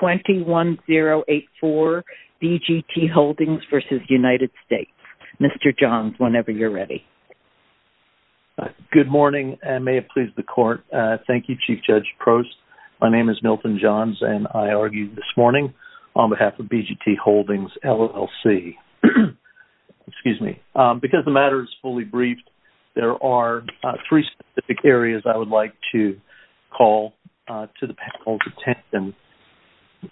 21084 BGT Holdings v. United States. Mr. Johns, whenever you're ready. Good morning and may it please the court. Thank you Chief Judge Prost. My name is Milton Johns and I argue this morning on behalf of BGT Holdings LLC. Excuse me. Because the matter is fully briefed, there are three specific areas I would like to call to the panel's attention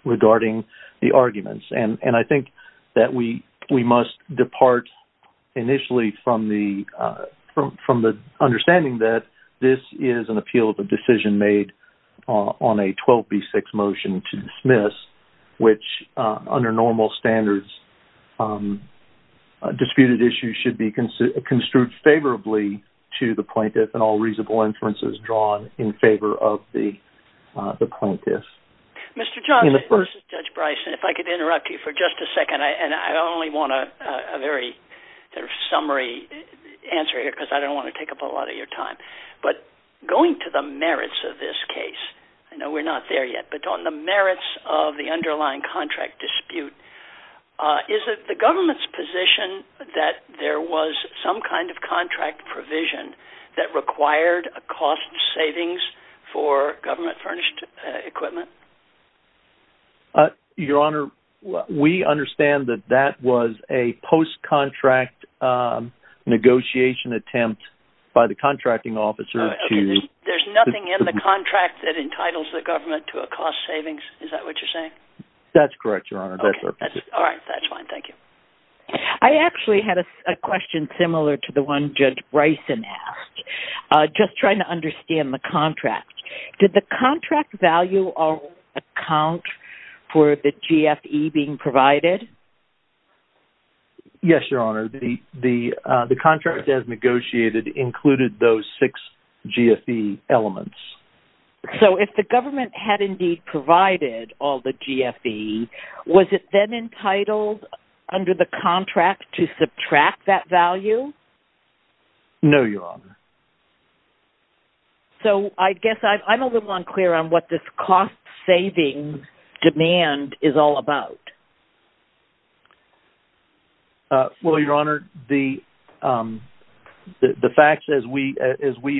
regarding the arguments. And I think that we must depart initially from the understanding that this is an appeal of a decision made on a 12b6 motion to dismiss, which under normal standards disputed issues should be construed favorably to the plaintiff. Mr. Johns v. Judge Bryson, if I could interrupt you for just a second. I only want a very sort of summary answer here because I don't want to take up a lot of your time. But going to the merits of this case, I know we're not there yet, but on the merits of the underlying contract dispute, is it the government's position that there was some kind of contract provision that required a cost savings for government furnished equipment? Your Honor, we understand that that was a post-contract negotiation attempt by the contracting officer to... There's nothing in the contract that entitles the government to a cost savings, is that what you're saying? That's correct, Your Honor. That's all right. That's fine. Thank you. I actually had a question similar to the one Judge Bryson asked, just trying to understand the contract. Did the contract value account for the GFE being provided? Yes, Your Honor. The contract as negotiated included those six GFE elements. So if the government had indeed provided all the GFE, was it then entitled under the contract to subtract that value? No, Your Honor. So I guess I'm a little unclear on what this cost-saving demand is all about. Well, Your Honor, the facts as we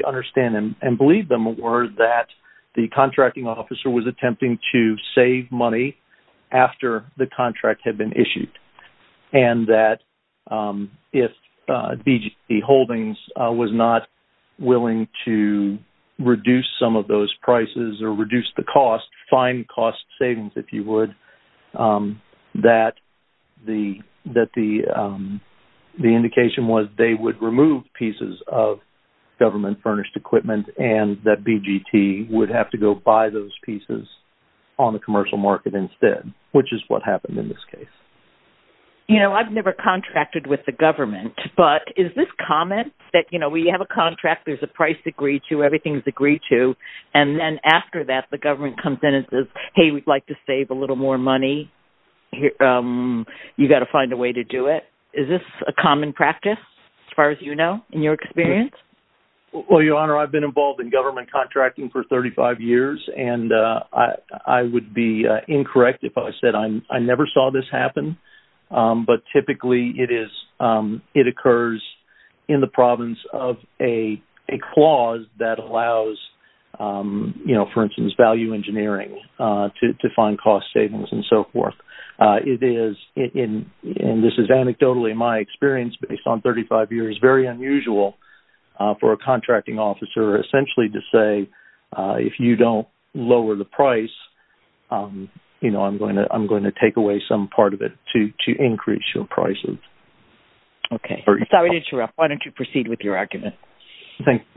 understand and believe them were that the contracting officer was attempting to save money after the contract had been issued and that if BGT Holdings was not willing to reduce some of those prices or reduce the cost, fine cost savings if you would, that the indication was they would remove pieces of government furnished equipment and that BGT would have to go buy those pieces on the instead, which is what happened in this case. You know, I've never contracted with the government, but is this common that, you know, we have a contract, there's a price agreed to, everything's agreed to, and then after that the government comes in and says, hey, we'd like to save a little more money. You've got to find a way to do it. Is this a common practice, as far as you know, in your experience? Well, Your Honor, I've been involved in government contracting for 35 years and I would be incorrect if I said I never saw this happen, but typically it occurs in the province of a clause that allows, you know, for instance, value engineering to find cost savings and so forth. It is, and this is anecdotally my experience based on 35 years, very unusual for a contracting officer essentially to say, if you don't lower the price, you know, I'm going to take away some part of it to increase your prices. Okay, sorry to interrupt. Why don't you proceed with your argument?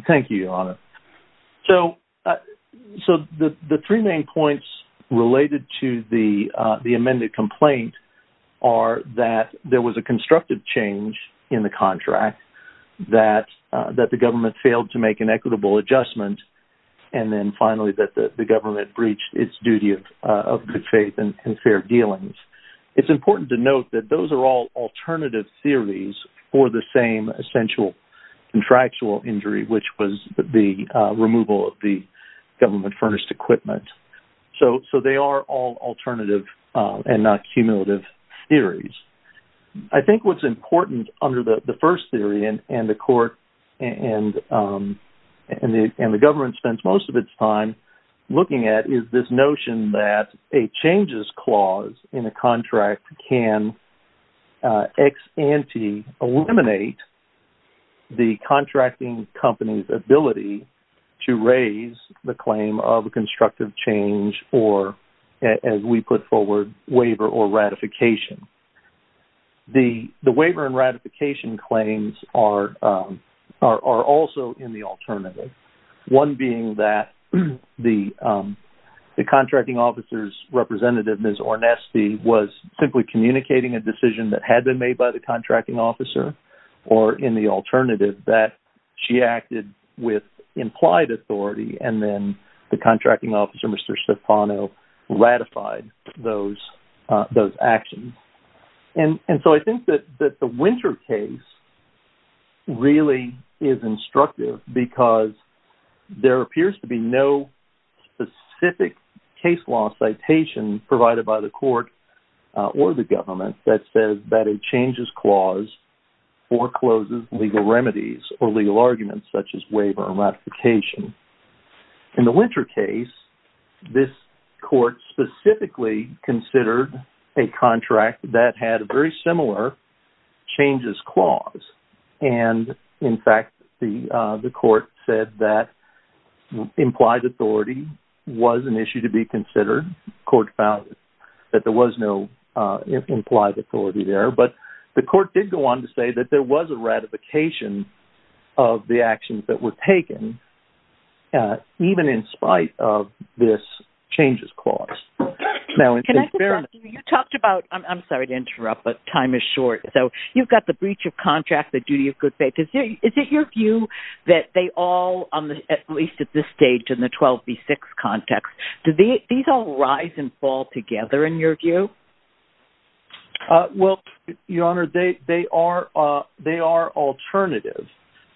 Thank you, Your Honor. So, the three main points related to the amended complaint are that there was a constructive change in the contract, that the government failed to make an equitable adjustment, and then finally that the government breached its duty of good faith and fair dealings. It's important to note that those are all alternative theories for the same essential contractual injury, which was the removal of the government furnished equipment. So, they are all alternative and not cumulative theories. I think what's important under the first theory and the court and the government spends most of its time looking at is this notion that a changes clause in a contract can ex ante eliminate the contracting company's ability to raise the claim of a constructive change or, as we put forward, waiver or ratification. The ratifications are also in the alternative, one being that the contracting officer's representative, Ms. Ornesti, was simply communicating a decision that had been made by the contracting officer or, in the alternative, that she acted with implied authority and then the contracting officer, Mr. Stefano, ratified those actions. So, I think that the Winter case really is instructive because there appears to be no specific case law citation provided by the court or the government that says that a changes clause forecloses legal remedies or legal arguments such as waiver or ratification. In the Winter case, this court specifically considered a contract that had a very similar changes clause and, in fact, the court said that implied authority was an issue to be considered. The court found that there was no implied authority there, but the court did go on to say that there was a ratification of the actions that were taken even in spite of this changes clause. Now, it's I would interrupt, but time is short. So, you've got the breach of contract, the duty of good faith. Is it your view that they all, at least at this stage in the 12B6 context, do these all rise and fall together in your view? Well, Your Honor, they are alternative.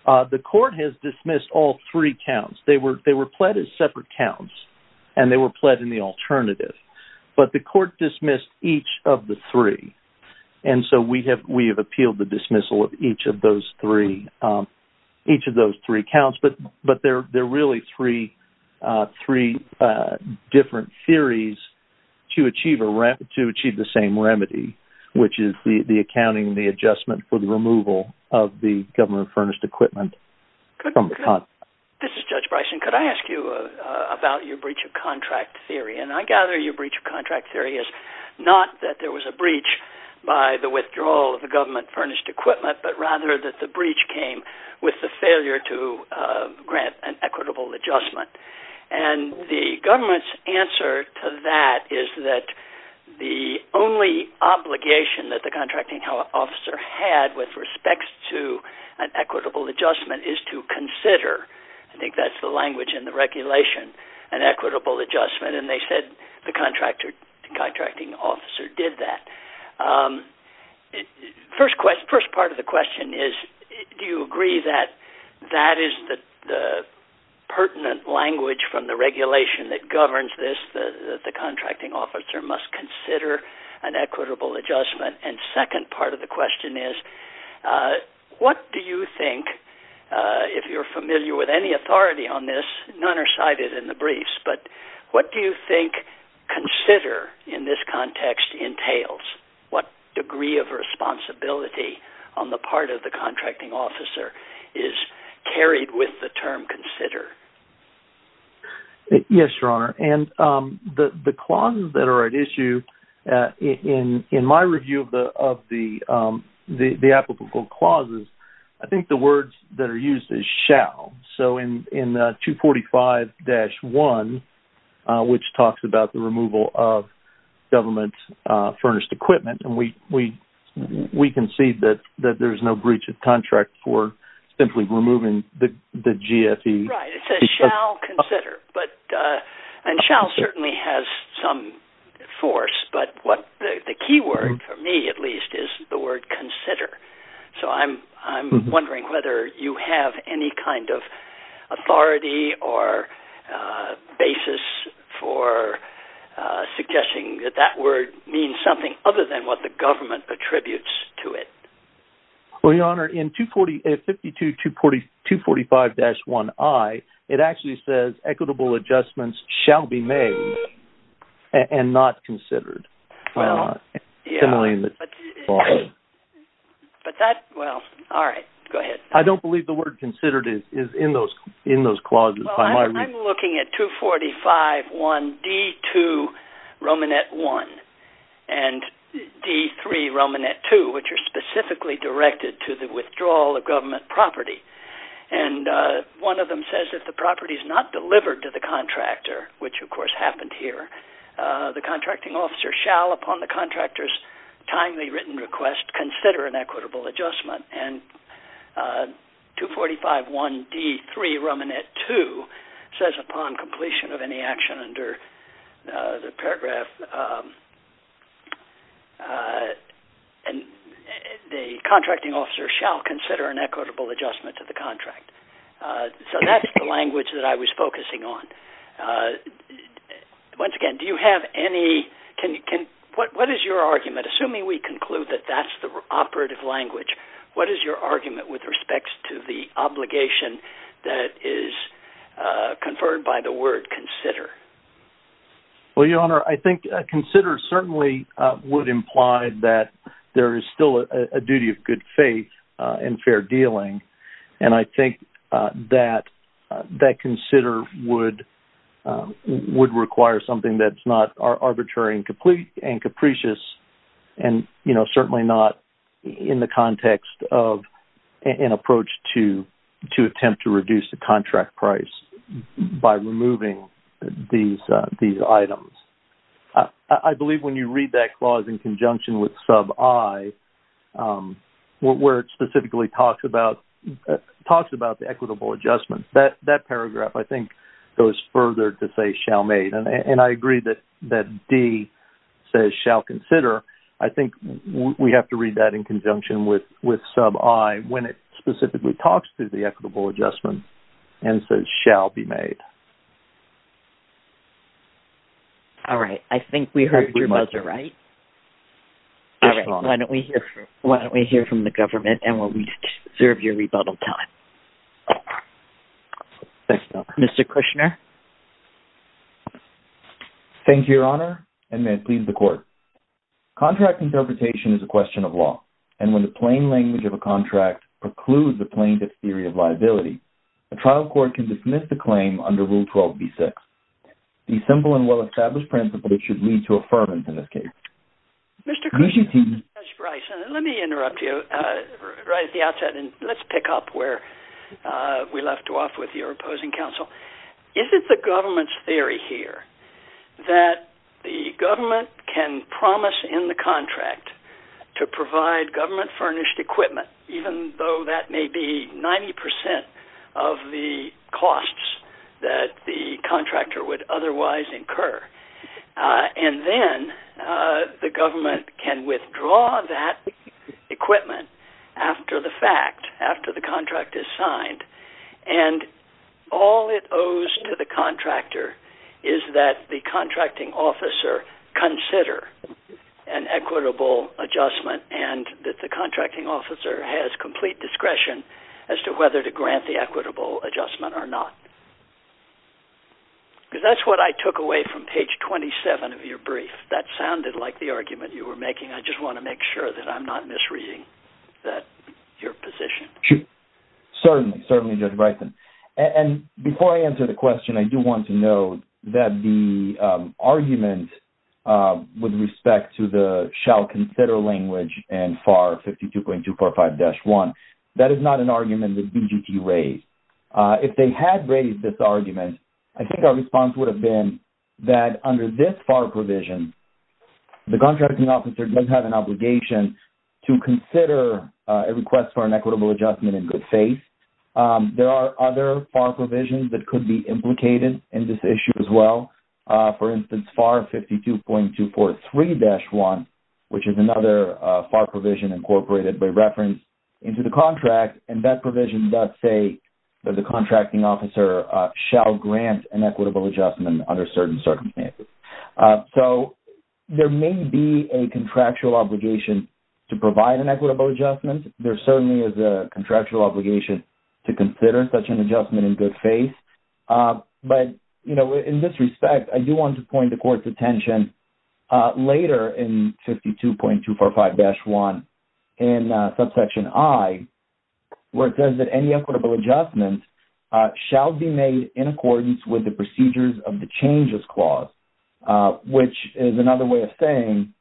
The court has dismissed all three counts. They were pled as separate counts and they were pled in the And so we have appealed the dismissal of each of those three counts, but they're really three different theories to achieve the same remedy, which is the accounting, the adjustment for the removal of the government furnished equipment. This is Judge Bryson. Could I ask you about your breach of contract theory? And I gather your breach of contract theory is not that there was a breach by the withdrawal of the government furnished equipment, but rather that the breach came with the failure to grant an equitable adjustment. And the government's answer to that is that the only obligation that the contracting officer had with respect to an equitable adjustment is to consider, I think that's the language in the regulation, an equitable adjustment. And they said the contracting officer did that. First part of the question is, do you agree that that is the pertinent language from the regulation that governs this, that the contracting officer must consider an equitable adjustment? And second part of the question is, what do you think, if you're familiar with any authority on this, none are cited in the briefs, but what do you think, consider in this context entails? What degree of responsibility on the part of the contracting officer is carried with the term consider? Yes, Your Honor. And the clauses that are at issue in my review of the applicable clauses, I think the words that are used is shall. So in 245-1, which talks about the removal of government's furnished equipment, and we can see that there's no breach of contract for simply removing the GFE. Right, it says shall consider. And shall certainly has some force, but what the key word, for me at least, is the word consider. So I'm wondering whether you have any kind of authority or basis for suggesting that that word means something other than what the government attributes to it. Well, Your Honor, in 52-245-1i, it actually says equitable adjustments shall be considered is in those clauses. Well, I'm looking at 245-1d-2, Romanet 1, and d-3, Romanet 2, which are specifically directed to the withdrawal of government property. And one of them says if the property is not delivered to the contractor, which of course happened here, the contracting officer shall, upon the contractor's timely written request, consider an equitable adjustment. And 245-1d-3, Romanet 2, says upon completion of any action under the paragraph, the contracting officer shall consider an equitable adjustment to the contract. So that's the language that I was focusing on. Once again, do you have any, what is your argument, assuming we conclude that that's the operative language, what is your argument with respect to the obligation that is conferred by the word consider? Well, Your Honor, I think consider certainly would imply that there is still a duty of good faith and fair dealing, and I think that consider would require something that's not arbitrary and complete and capricious and, you know, certainly not in the context of an approach to attempt to reduce the contract price by removing these items. I believe when you read that clause in conjunction with sub I, where it specifically talks about the equitable adjustment, that paragraph, I think, goes further to say shall made. And I agree that that D says shall consider. I think we have to read that in conjunction with sub I when it specifically talks to the equitable adjustment and says shall be made. All right. I think we heard you both right. Why don't we hear from the Thank you, Your Honor, and may it please the court. Contract interpretation is a question of law, and when the plain language of a contract precludes the plaintiff's theory of liability, a trial court can dismiss the claim under Rule 12b6. The simple and well-established principle should lead to affirmance in this case. Mr. Cronin, Judge Bryson, let me interrupt you right at the outset and let's pick up where we left off with your opposing counsel. Is it the government's theory here that the government can promise in the contract to provide government furnished equipment, even though that may be 90% of the costs that the contractor would otherwise incur, and then the government can withdraw that equipment after the fact, after the contract is signed, and all it owes to the contractor is that the contracting officer consider an equitable adjustment and that the contracting officer has complete discretion as to whether to grant the equitable adjustment or not? Because that's what I took away from page 27 of your brief. That sounded like the argument you were making. I just want to make sure that I'm not misreading your position. Certainly, Judge Bryson. And before I answer the question, I do want to note that the argument with respect to the shall consider language and FAR 52.245-1, that is not an argument that BGT raised. If they had raised this argument, I think our response would have been that under this FAR provision, the contracting officer does have an obligation to consider a request for an equitable adjustment in good faith. There are other FAR provisions that could be implicated in this issue as well. For instance, FAR 52.243-1, which is another FAR provision incorporated by reference into the contract, and that provision does say that the contracting officer shall grant an equitable adjustment under certain obligations to provide an equitable adjustment. There certainly is a contractual obligation to consider such an adjustment in good faith. But, you know, in this respect, I do want to point the court's attention later in 52.245-1 in subsection I, where it says that any equitable adjustment shall be made in accordance with the procedures of the changes clause, which is another way of saying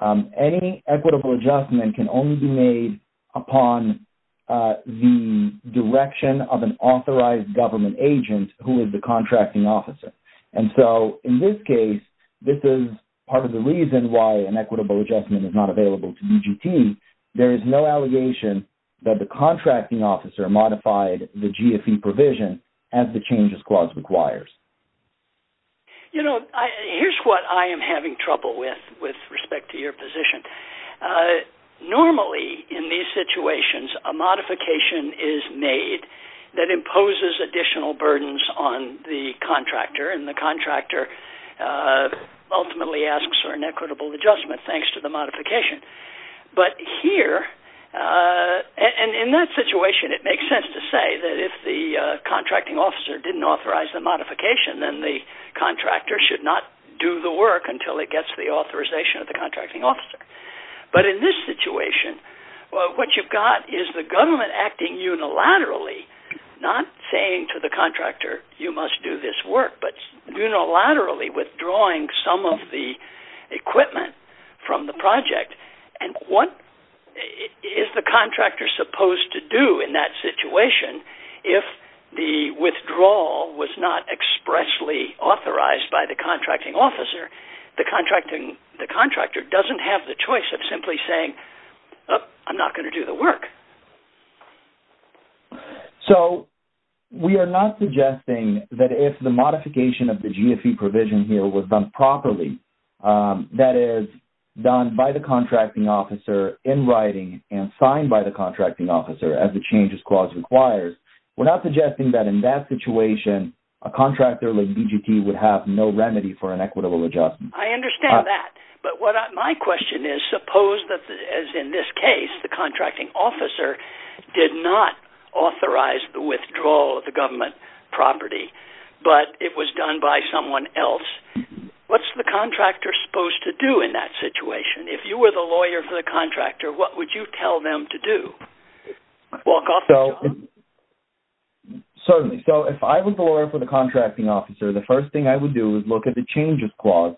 that any equitable adjustment can only be made upon the direction of an authorized government agent who is the contracting officer. And so, in this case, this is part of the reason why an equitable adjustment is not available to BGT. There is no allegation that the contracting officer modified the GFE provision as the changes clause requires. You know, here's what I am having trouble with, with respect to your position. Normally, in these situations, a modification is made that imposes additional burdens on the contractor, and the contractor ultimately asks for an equitable adjustment thanks to the modification. But here, and in that situation, it makes sense to say that if the contracting officer didn't authorize the modification, then the contractor should not do the work until it gets the authorization of the contracting officer. But in this situation, what you've got is the government acting unilaterally, not saying to the contractor, you must do this work, but unilaterally withdrawing some of the equipment from the project. And what is the contractor supposed to do in that situation if the withdrawal was not expressly authorized by the contracting officer? The contractor doesn't have the choice of simply saying, I'm not going to do the work. So, we are not suggesting that if the modification of the GFE provision here was done properly, that is, done by the contracting officer in writing and signed by the contracting officer as the changes clause requires, we're not suggesting that in that situation, a contractor like BGT would have no remedy for an equitable adjustment. I understand that, but my question is, suppose that, as in this case, the contracting officer did not authorize the withdrawal of the government property, but it was done by someone else. What's the contractor supposed to do in that situation? If you were the lawyer for the contractor, what would you tell them to do? Walk off the job? Certainly. So, if I was the lawyer for the contracting officer, the first thing I would do is look at the changes clause,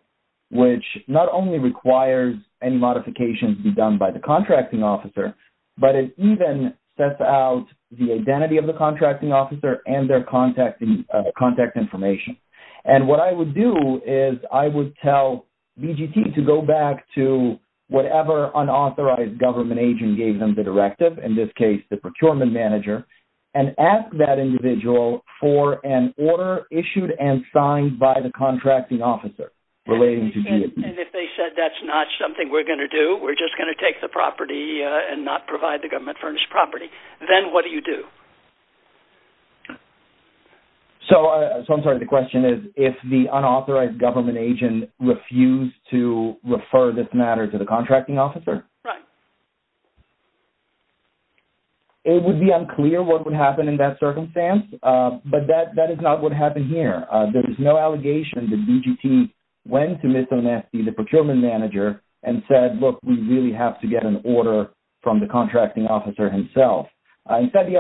which not only requires any modifications be done by the contracting officer, but it even sets out the identity of the contracting officer and their contact information. And what I would do is, I would tell BGT to go back to whatever unauthorized government agent gave them the directive, in this case, the procurement manager, and ask that individual for an order issued and signed by the contracting officer relating to BGT. And if they said that's not something we're going to do, we're just going to take the property and not provide the government furnished property, then what do you do? So, I'm sorry, the question is, if the unauthorized government agent refused to refer this matter to the contracting officer? It would be unclear what would happen in that circumstance, but that that is not what happened here. There is no allegation that BGT went to Ms. Onesti, the procurement manager, and said, look, we really have to get an order from the contracting officer himself. Instead, the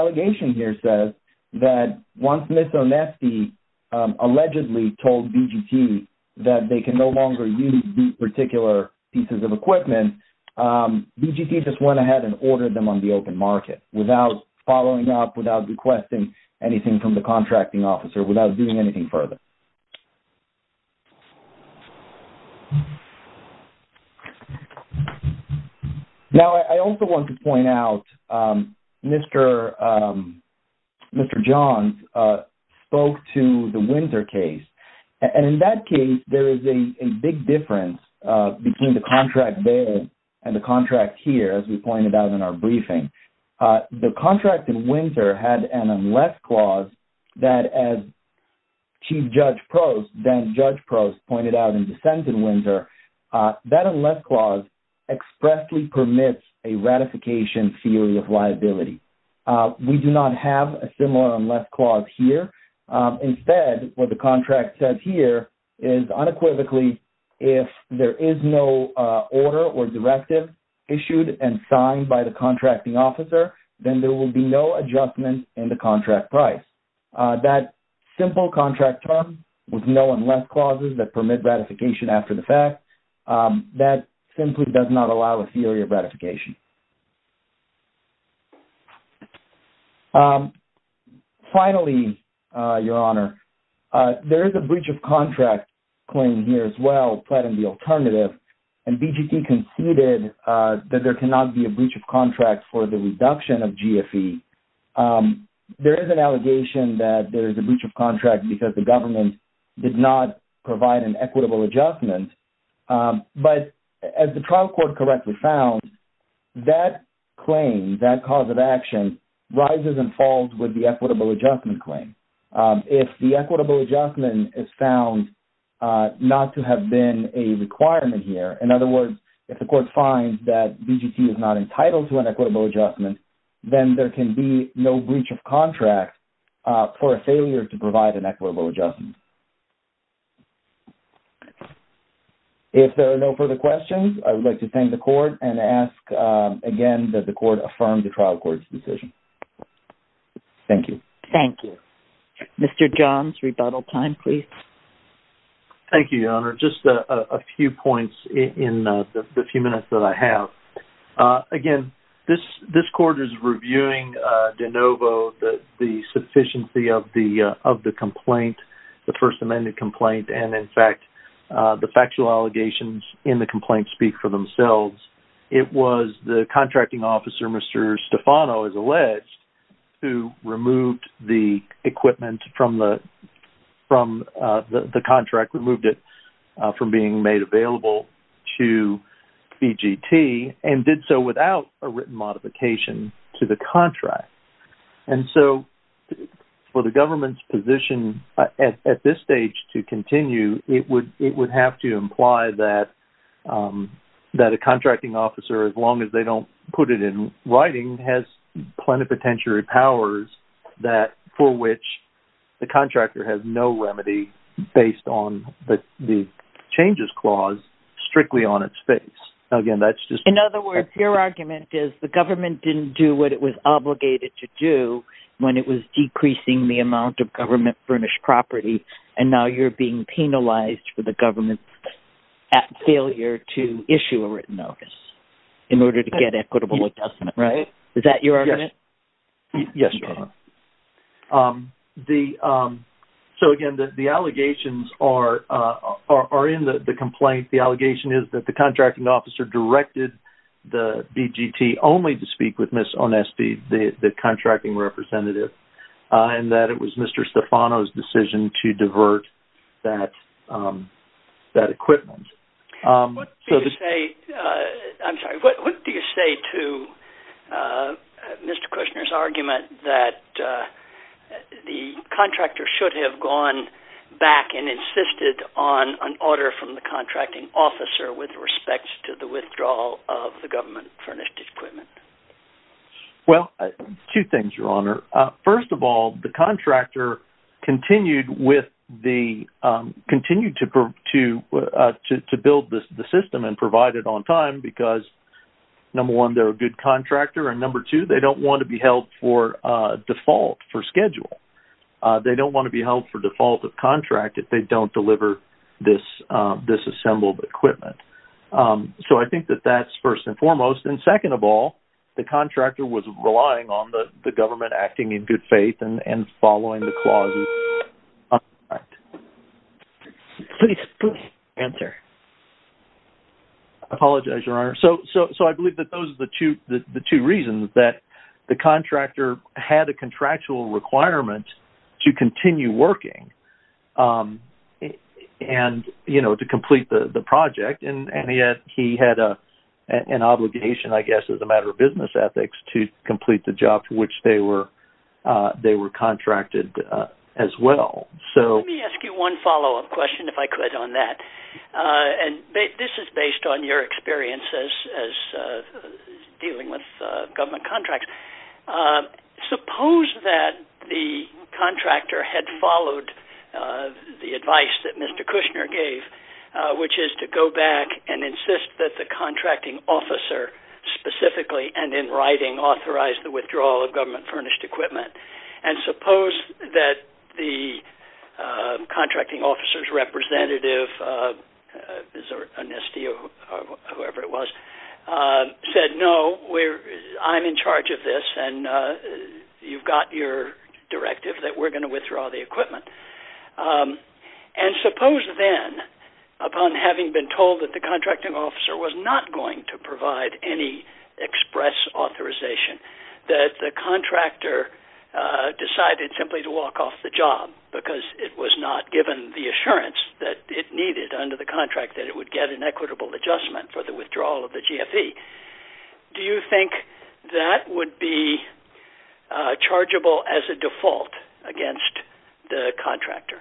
allegedly told BGT that they can no longer use these particular pieces of equipment, BGT just went ahead and ordered them on the open market without following up, without requesting anything from the contracting officer, without doing anything further. Now, I also want to point out, Mr. Johns spoke to the Winter case, and in that case, there is a big difference between the contract there and the contract here, as we pointed out in our briefing. The contract in Winter had an unless clause that, as Chief Judge Prost, then Judge Prost, pointed out in the sentence in Winter, that unless clause expressly permits a ratification theory of liability. We do not have a similar unless clause here. Instead, what the contract says here is, unequivocally, if there is no order or directive issued and signed by the contracting officer, then there will be no adjustment in the contract price. That simple contract term with no unless clauses that permit ratification after the fact, that simply does not allow a theory of ratification. Finally, Your Honor, there is a breach of contract claim here as well, but in the alternative, and BGT conceded that there cannot be a breach of contract for the reduction of GFE. There is an allegation that there is a breach of contract because the government did not provide an equitable adjustment, but as the trial court correctly found, that claim, that cause of action, rises and falls with the equitable adjustment claim. If the equitable adjustment is found not to have been a requirement here, in other words, if the court finds that BGT is not entitled to an equitable adjustment, then there can be no breach of contract for a failure to provide an equitable adjustment. If there are no further questions, I would like to thank the court and ask again that the court affirm the trial court's decision. Thank you. Thank you. Mr. Johns, rebuttal time, please. Thank you, Your Honor. Just a few points in the few minutes that I have. Again, this court is reviewing de novo the sufficiency of the complaint, the First Amendment complaint, and in fact, the factual allegations in the complaint speak for themselves. It was the contracting officer, Mr. Stefano, as alleged, who removed the equipment from the contract, removed it from being made available to BGT, and did so without a written modification to the contract. And so, for the government's position at this stage to continue, it would have to imply that a contracting officer, as long as they don't put it in writing, has plenipotentiary powers for which the contractor has no remedy based on the changes clause strictly on its face. Again, that's just... In other words, your argument is the government didn't do what it was obligated to do when it was decreasing the amount of government-furnished property, and now you're being penalized for the government's failure to issue a written notice in order to get equitable adjustment, right? Is that your argument? Yes, Your Honor. So, again, the allegations are in the complaint. The allegation is that the contracting officer directed the BGT only to speak with Ms. Onesti, the contracting representative, and that it was Mr. Stefano's decision to divert that equipment. What do you say to Mr. Kushner's argument that the contractor should have gone back and insisted on an order from the contracting officer with respect to the withdrawal of the government-furnished equipment? Well, two things. One, they continue to build the system and provide it on time because, number one, they're a good contractor, and number two, they don't want to be held for default for schedule. They don't want to be held for default of contract if they don't deliver this disassembled equipment. So I think that that's first and foremost, and second of all, the contractor was relying on the government acting in good faith and following the clauses. Please answer. I apologize, Your Honor. So I believe that those are the two reasons that the contractor had a contractual requirement to continue working and, you know, to complete the project, and yet he had an obligation, I guess, as a matter of business ethics to complete the job for which they were contracted as well. So let me ask you one follow-up question, if I could, on that, and this is based on your experience as dealing with government contracts. Suppose that the contractor had followed the advice that Mr. Kushner gave, which is to go back and insist that the contracting officer specifically, and in writing, authorized the withdrawal of government furnished equipment, and suppose that the contracting officer's representative, Zoran Nesti, or whoever it was, said, no, I'm in charge of this, and you've got your directive that we're going to withdraw the equipment, and suppose then, upon having been told that the contracting officer was not going to give any express authorization, that the contractor decided simply to walk off the job because it was not given the assurance that it needed under the contract that it would get an equitable adjustment for the withdrawal of the GFE. Do you think that would be chargeable as a default against the contractor?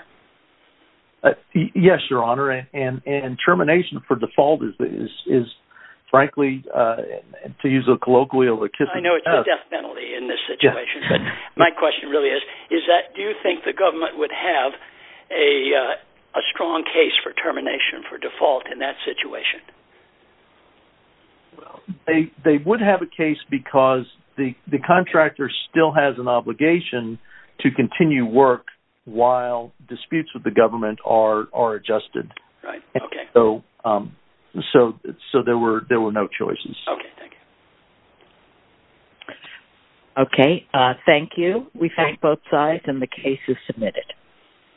Yes, your honor, and termination for default is, frankly, to use a colloquial... I know it's a death penalty in this situation, but my question really is, is that, do you think the government would have a strong case for termination for default in that situation? They would have a case because the disputes with the government are adjusted, so there were no choices. Okay, thank you. We thank both sides, and the case is submitted.